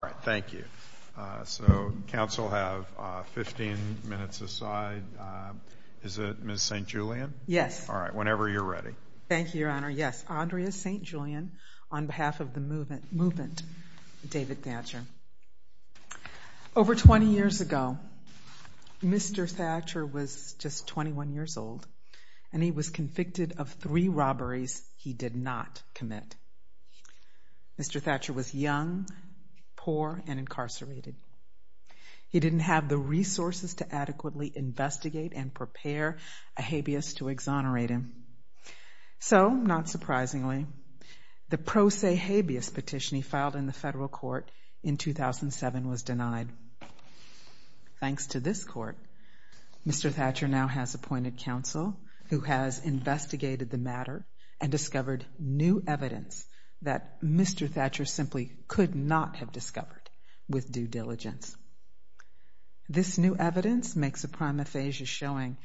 All right, thank you. So council have 15 minutes aside. Is it Miss St. Julian? Yes. All right, whenever you're ready. Thank you, Your Honor. Yes, Andrea St. Julian on behalf of the movement movement, David Thatcher. Over 20 years ago, Mr. Thatcher was just 21 years old, and he was convicted of three robberies he did not commit. Mr. Thatcher was young, poor and incarcerated. He didn't have the resources to adequately investigate and prepare a habeas to exonerate him. So not surprisingly, the pro se habeas petition he filed in the federal court in matter and discovered new evidence that Mr. Thatcher simply could not have discovered with due diligence. This new evidence makes a prime aphasia showing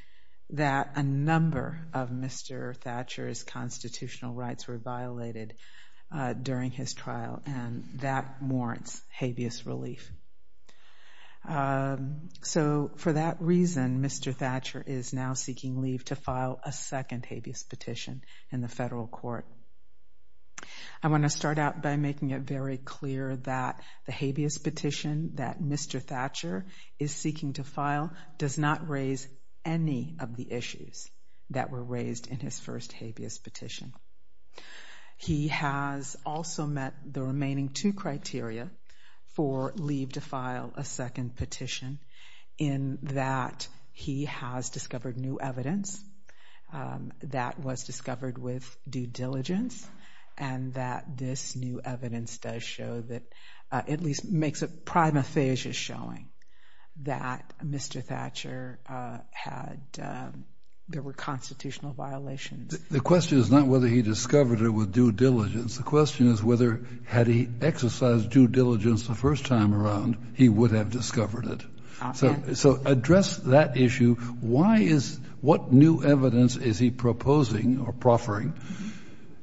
that a number of Mr. Thatcher's constitutional rights were violated during his trial, and that warrants habeas relief. So for that reason, Mr. Thatcher is now seeking leave to file a second habeas petition in the federal court. I want to start out by making it very clear that the habeas petition that Mr. Thatcher is seeking to file does not raise any of the issues that were or leave to file a second petition in that he has discovered new evidence that was discovered with due diligence, and that this new evidence does show that at least makes a prime aphasia showing that Mr. Thatcher had, there were constitutional violations. The question is not whether he discovered it with due diligence. The question is whether had he exercised due diligence the first time around, he would have discovered it. So address that issue. Why is, what new evidence is he proposing or proffering,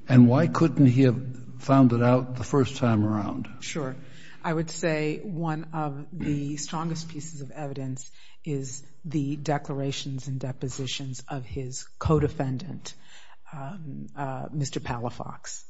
and why couldn't he have found it out the first time around? Sure. I would say one of the strongest pieces of evidence is the declarations and depositions of his co-defendant, Mr. Palafox.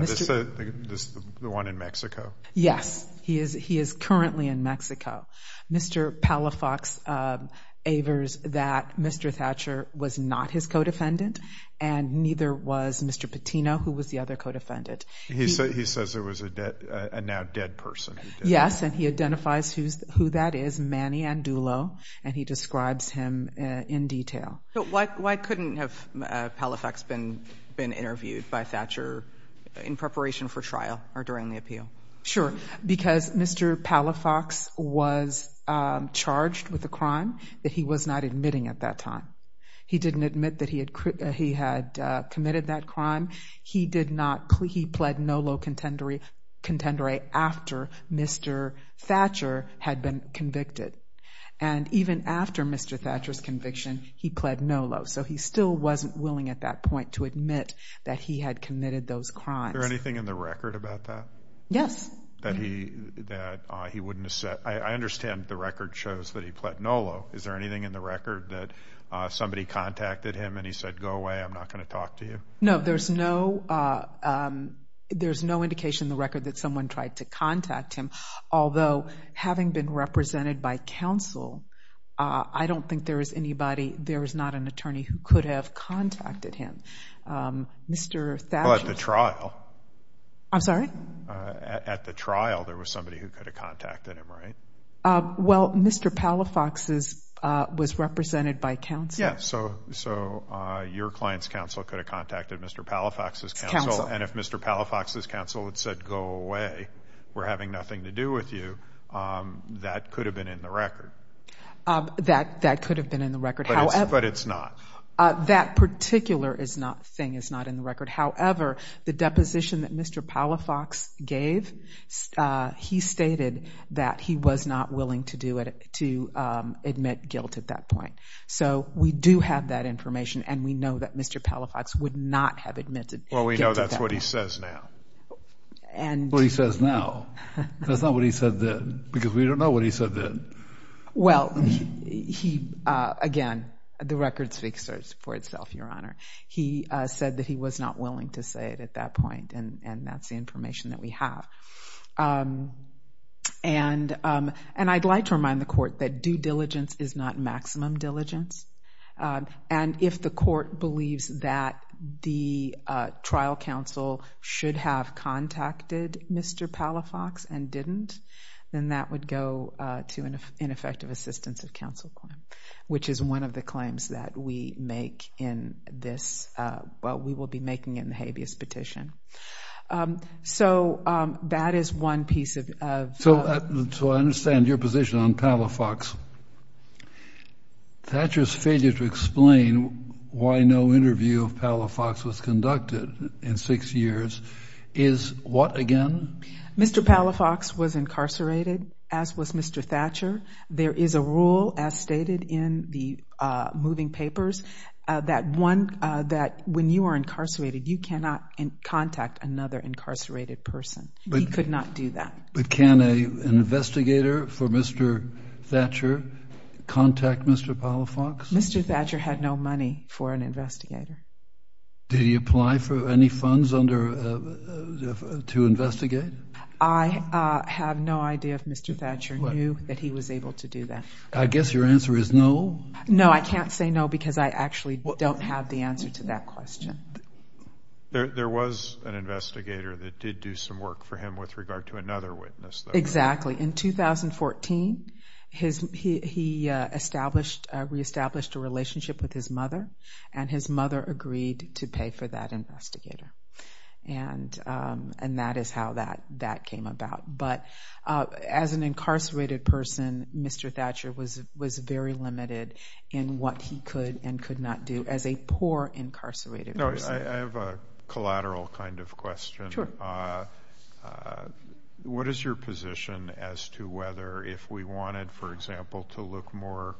This is the one in Mexico? Yes, he is currently in Mexico. Mr. Palafox avers that Mr. Thatcher was not his co-defendant, and neither was Mr. Patino, who was the other co-defendant. He says there was a now dead person. Yes, and he identifies who that is, Manny Andulo, and he describes him in detail. So why couldn't have Palafox been interviewed by Thatcher in preparation for trial or during the appeal? Sure, because Mr. Palafox was charged with a crime that he was not admitting at that time. He didn't admit that he had committed that crime. He did not, he pled no low contendere after Mr. Thatcher had been convicted. And even after Mr. Thatcher's conviction, he pled no low. So he still wasn't willing at that point to admit that he had committed those crimes. Is there anything in the record about that? Yes. That he wouldn't have said, I understand the record shows that he pled no low. Is there anything in the record that somebody contacted him and he said, go away, I'm not going to talk to you? No, there's no indication in the record that someone tried to contact him. Although, having been represented by counsel, I don't think there is anybody, there is not an attorney who could have contacted him. Mr. Thatcher... Well, at the trial. I'm sorry? At the trial, there was somebody who could have contacted him, right? Well, Mr. Palafox's was represented by counsel. Yes, so your client's counsel could have contacted Mr. Palafox's counsel. And if Mr. Palafox's counsel had said, go away, we're having nothing to do with you, that could have been in the record. That could have been in the record. However... But it's not. That particular thing is not in the record. However, the deposition that Mr. Palafox gave, he stated that he was not willing to admit guilt at that point. So we do have that information and we know that What he says now. That's not what he said then, because we don't know what he said then. Well, he, again, the record speaks for itself, Your Honor. He said that he was not willing to say it at that point, and that's the information that we have. And I'd like to remind the court that due diligence is not maximum diligence. And if the court believes that the trial counsel should have contacted Mr. Palafox and didn't, then that would go to an ineffective assistance of counsel claim, which is one of the claims that we make in this, what we will be making in the habeas petition. So that is one piece of... So I understand your position on Palafox. Thatcher's failure to explain why no interview of Palafox was conducted in six years is what, again? Mr. Palafox was incarcerated, as was Mr. Thatcher. There is a rule, as stated in the moving papers, that when you are incarcerated, you cannot contact another incarcerated person. We could not do that. But can an investigator for Mr. Thatcher contact Mr. Palafox? Mr. Thatcher had no money for an investigator. Did he apply for any funds to investigate? I have no idea if Mr. Thatcher knew that he was able to do that. I guess your answer is no. No, I can't say no because I actually don't have the answer to that question. There was an investigator that did do some work for him with regard to another witness. Exactly. In 2014, he re-established a relationship with his mother, and his mother agreed to pay for that investigator. And that is how that came about. But as an incarcerated person, Mr. Thatcher was very limited in what he could and could not do as a poor incarcerated person. I have a collateral kind of question. What is your position as to whether, if we wanted, for example, to look more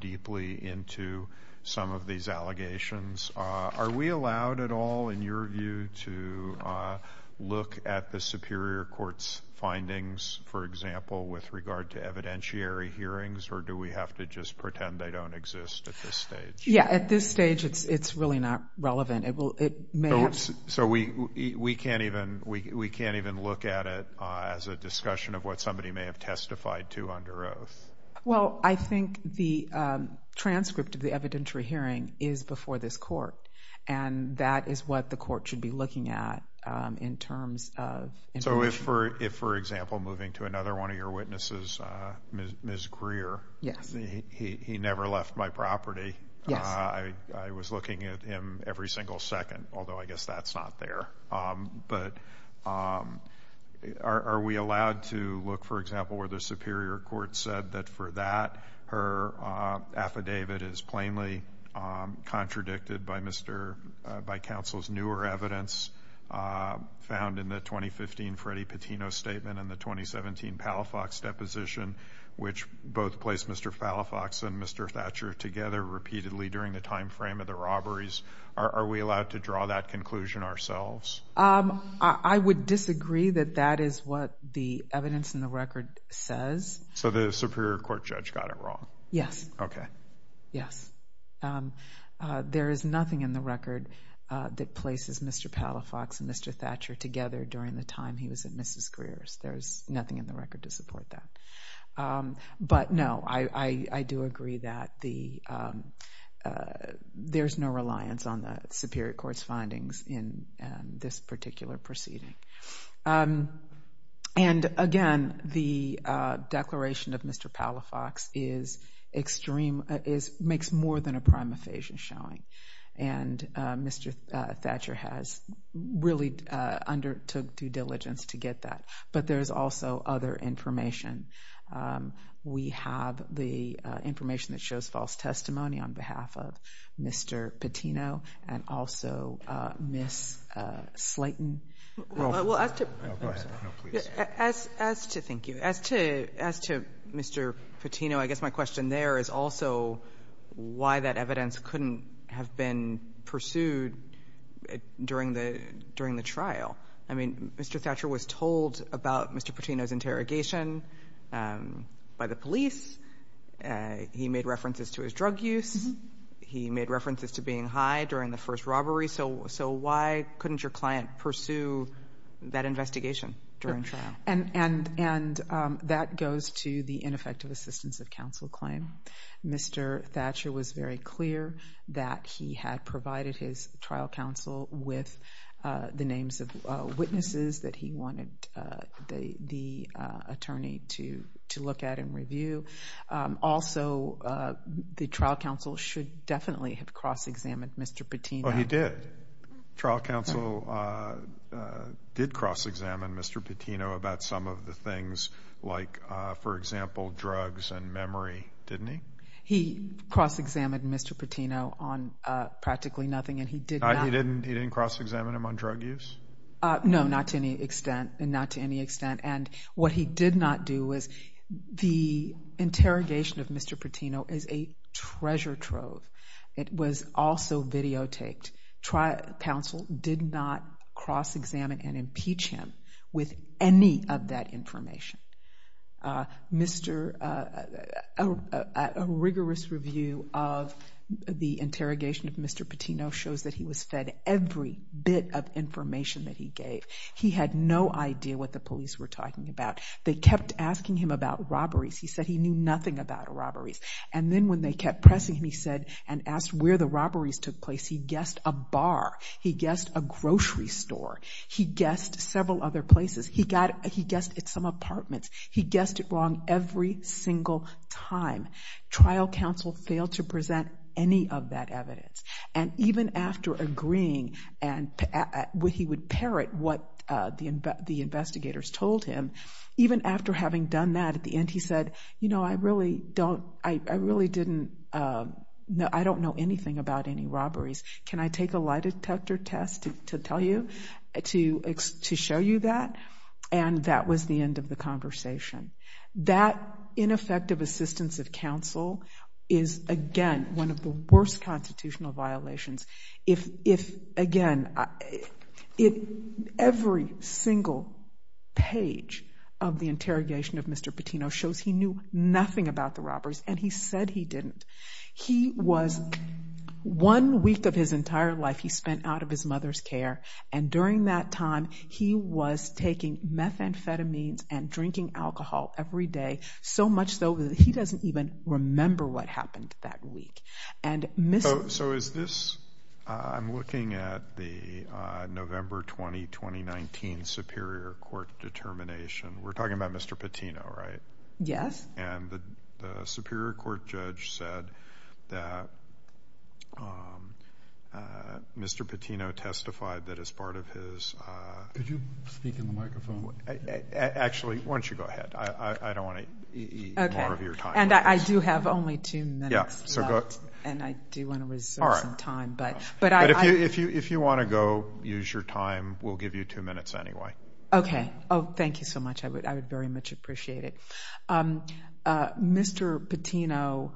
deeply into some of these allegations, are we allowed at all, in your view, to look at the Superior Court's findings, for example, with regard to evidentiary hearings? Or do we have to just pretend they don't at this stage? Yeah, at this stage, it's really not relevant. So we can't even look at it as a discussion of what somebody may have testified to under oath? Well, I think the transcript of the evidentiary hearing is before this Court, and that is what the Court should be looking at in terms of information. So if, for example, moving to another one of your witnesses, Ms. Greer, he never left my property. I was looking at him every single second, although I guess that's not there. But are we allowed to look, for example, where the Superior Court said that for that her affidavit is plainly contradicted by counsel's newer evidence found in the 2015 Freddy Patino statement and the 2017 Palafox deposition, which both placed Mr. Palafox and Mr. Thatcher together repeatedly during the time frame of the robberies? Are we allowed to draw that conclusion ourselves? I would disagree that that is what the evidence in the record says. So the Superior Court judge got it wrong? Yes. Okay. Yes. There is nothing in the record that places Mr. Palafox and Mr. Thatcher together during the time he was at Mrs. Greer's. There's nothing in the record to support that. But no, I do agree that there's no reliance on the Superior Court's findings in this particular proceeding. And again, the Mr. Thatcher has really undertook due diligence to get that. But there's also other information. We have the information that shows false testimony on behalf of Mr. Patino and also Ms. Slayton. As to Mr. Patino, I guess my question there is also why that evidence couldn't have been pursued during the trial? I mean, Mr. Thatcher was told about Mr. Patino's interrogation by the police. He made references to his drug use. He made references to being high during the first robbery. So why couldn't your client pursue that investigation during trial? And that goes to the ineffective assistance of counsel claim. Mr. Thatcher was very clear that he had provided his trial counsel with the names of witnesses that he wanted the attorney to look at and review. Also, the trial counsel should definitely have cross-examined Mr. Patino. Well, he did. Trial counsel did cross-examine Mr. Patino about some of the things like, for example, drugs and memory, didn't he? He cross-examined Mr. Patino on practically nothing and he did not... He didn't cross-examine him on drug use? No, not to any extent. And what he did not do was the interrogation of Mr. Patino is a treasure trove. It was also videotaped. Trial counsel did not cross-examine and impeach him with any of that information. A rigorous review of the interrogation of Mr. Patino shows that he was fed every bit of information that he gave. He had no idea what the police were talking about. They kept asking him about robberies. He said he knew nothing about robberies. And then when they kept pressing him, he said, and asked where the robberies took place, he guessed a bar. He guessed a grocery store. He guessed several other places. He guessed at some apartments. He guessed it wrong every single time. Trial counsel failed to present any of that evidence. And even after agreeing and he would parrot what the investigators told him, even after having done that, at the end he said, you know, I really don't... I really didn't... I don't know anything about any robberies. Can I take a lie detector test to tell you, to show you that? And that was the end of the conversation. That ineffective assistance of counsel is, again, one of the worst constitutional violations. If, again, every single page of the interrogation of Mr. Patino shows he knew nothing about the robberies, and he said he didn't, he was... One week of his entire life, he spent out of his mother's care. And during that time, he was taking methamphetamines and drinking alcohol every day, so much so that he doesn't even remember what happened that week. And Mr... So is this... I'm looking at the November 20, 2019 Superior Court determination. We're talking about Mr. Patino, right? Yes. And the Superior Court judge said that Mr. Patino testified that as part of his... Could you speak in the microphone? Actually, why don't you go ahead. I don't want to eat more of your time. And I do have only two minutes left, and I do want to reserve some time. But I... But if you want to go use your time, we'll give you two minutes anyway. Okay. Oh, thank you so much. I would very much appreciate it. Mr. Patino,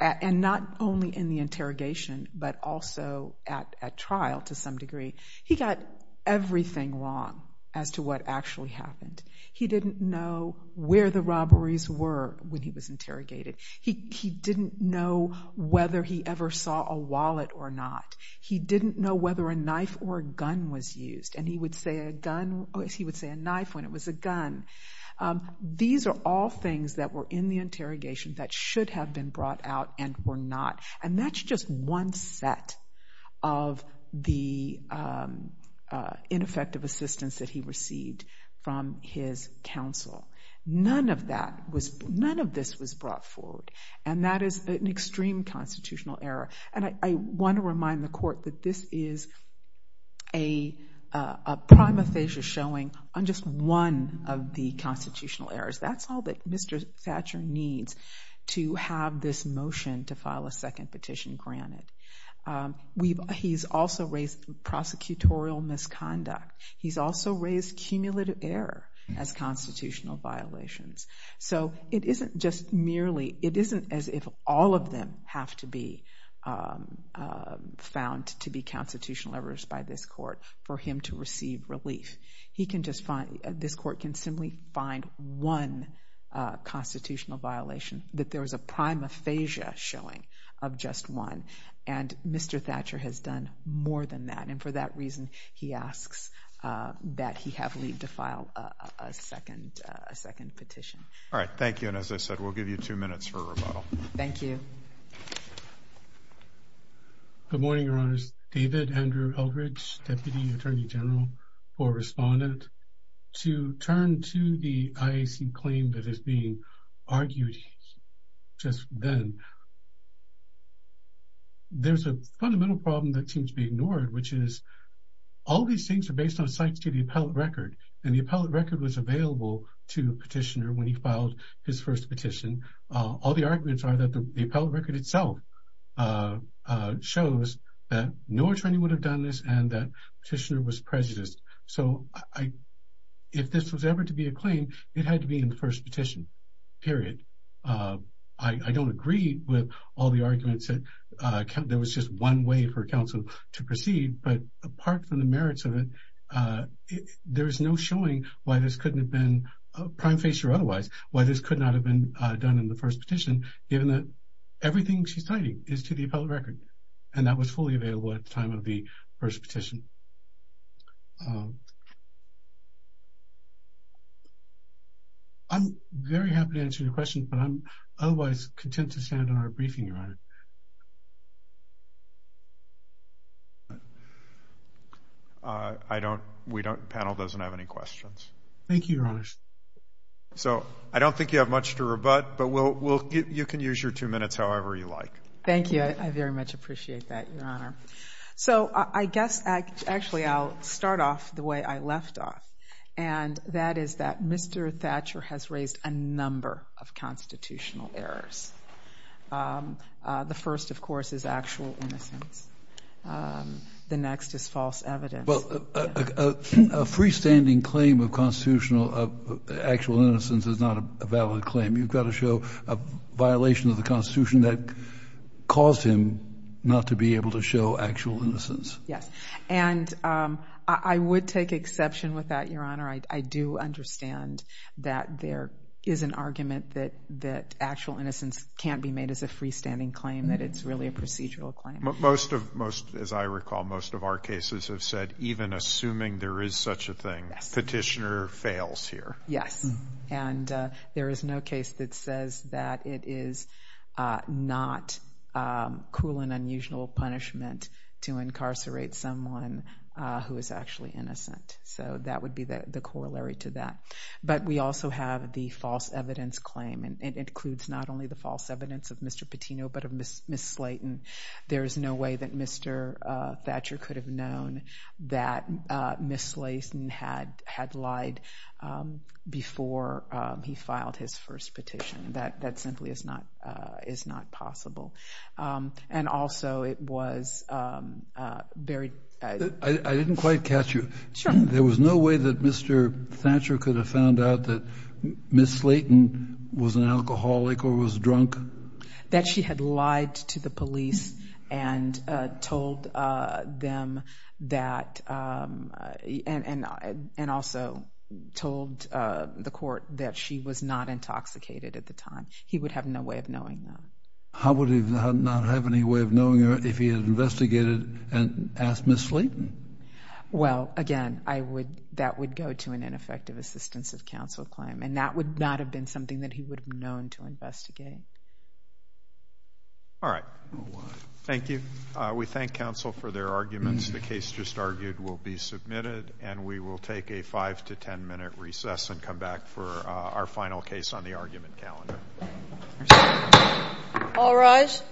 and not only in the interrogation, but also at trial, to some degree, he got everything wrong as to what actually happened. He didn't know where the robberies were when he was interrogated. He didn't know whether he ever saw a wallet or not. He didn't know whether a knife or a gun was used. And he would say a gun... He would say a knife when it was a gun. These are all things that were in the interrogation that should have been brought out and were not. And that's just one set of the ineffective assistance that he received from his counsel. None of that was... None of this was error. And I want to remind the court that this is a primathesia showing on just one of the constitutional errors. That's all that Mr. Thatcher needs to have this motion to file a second petition granted. He's also raised prosecutorial misconduct. He's also raised cumulative error as constitutional violations. So it isn't just merely... It isn't as if all of them have to be found to be constitutional errors by this court for him to receive relief. He can just find... This court can simply find one constitutional violation that there is a primathesia showing of just one. And Mr. Thatcher has done more than that. And for that reason, he asks that he have leave to file a second petition. All right. Thank you. And as I said, we'll give you two minutes for a rebuttal. Thank you. Good morning, Your Honors. David Andrew Eldridge, Deputy Attorney General for Respondent. To turn to the IAC claim that is being argued just then, there's a fundamental problem that seems to be ignored, which is all these things are based on cites to the appellate record. And the appellate record was available to the petitioner when he filed his first petition. All the arguments are that the appellate record itself shows that no attorney would have done this and that petitioner was prejudiced. So if this was ever to be a claim, it had to be in the first petition, period. I don't agree with all the arguments that there was just one way for counsel to proceed. But there's no showing why this couldn't have been prime face or otherwise, why this could not have been done in the first petition, given that everything she's citing is to the appellate record. And that was fully available at the time of the first petition. I'm very happy to answer your question, but I'm otherwise content to stand on our briefing, Your Honor. Thank you, Your Honor. So I don't think you have much to rebut, but you can use your two minutes however you like. Thank you. I very much appreciate that, Your Honor. So I guess, actually, I'll start off the way I left off. And that is that Mr. Thatcher has raised a number of constitutional errors. The first, of course, is actual innocence. The next is false evidence. A freestanding claim of actual innocence is not a valid claim. You've got to show a violation of the Constitution that caused him not to be able to show actual innocence. Yes. And I would take exception with that, Your Honor. I do understand that there is an argument that actual innocence can't be made as a freestanding claim, that it's really a procedural claim. Most of, as I recall, most of our cases have said, even assuming there is such a thing, petitioner fails here. Yes. And there is no case that says that it is not cruel and unusual punishment to incarcerate someone who is actually innocent. So that would be the corollary to that. But we also have the false evidence claim, and it includes not only the false evidence of Mr. Thatcher, but the false evidence of Ms. Slayton. There is no way that Mr. Thatcher could have known that Ms. Slayton had lied before he filed his first petition. That simply is not possible. And also, it was very... I didn't quite catch you. Sure. There was no way that Mr. Thatcher could have found out that Ms. Slayton was an alcoholic or was drunk. That she had lied to the police and told them that... and also told the court that she was not intoxicated at the time. He would have no way of knowing that. How would he not have any way of knowing her if he had and asked Ms. Slayton? Well, again, that would go to an ineffective assistance of counsel claim, and that would not have been something that he would have known to investigate. All right. Thank you. We thank counsel for their arguments. The case just argued will be submitted, and we will take a five to ten minute recess and come back for our final case on the argument calendar. All rise.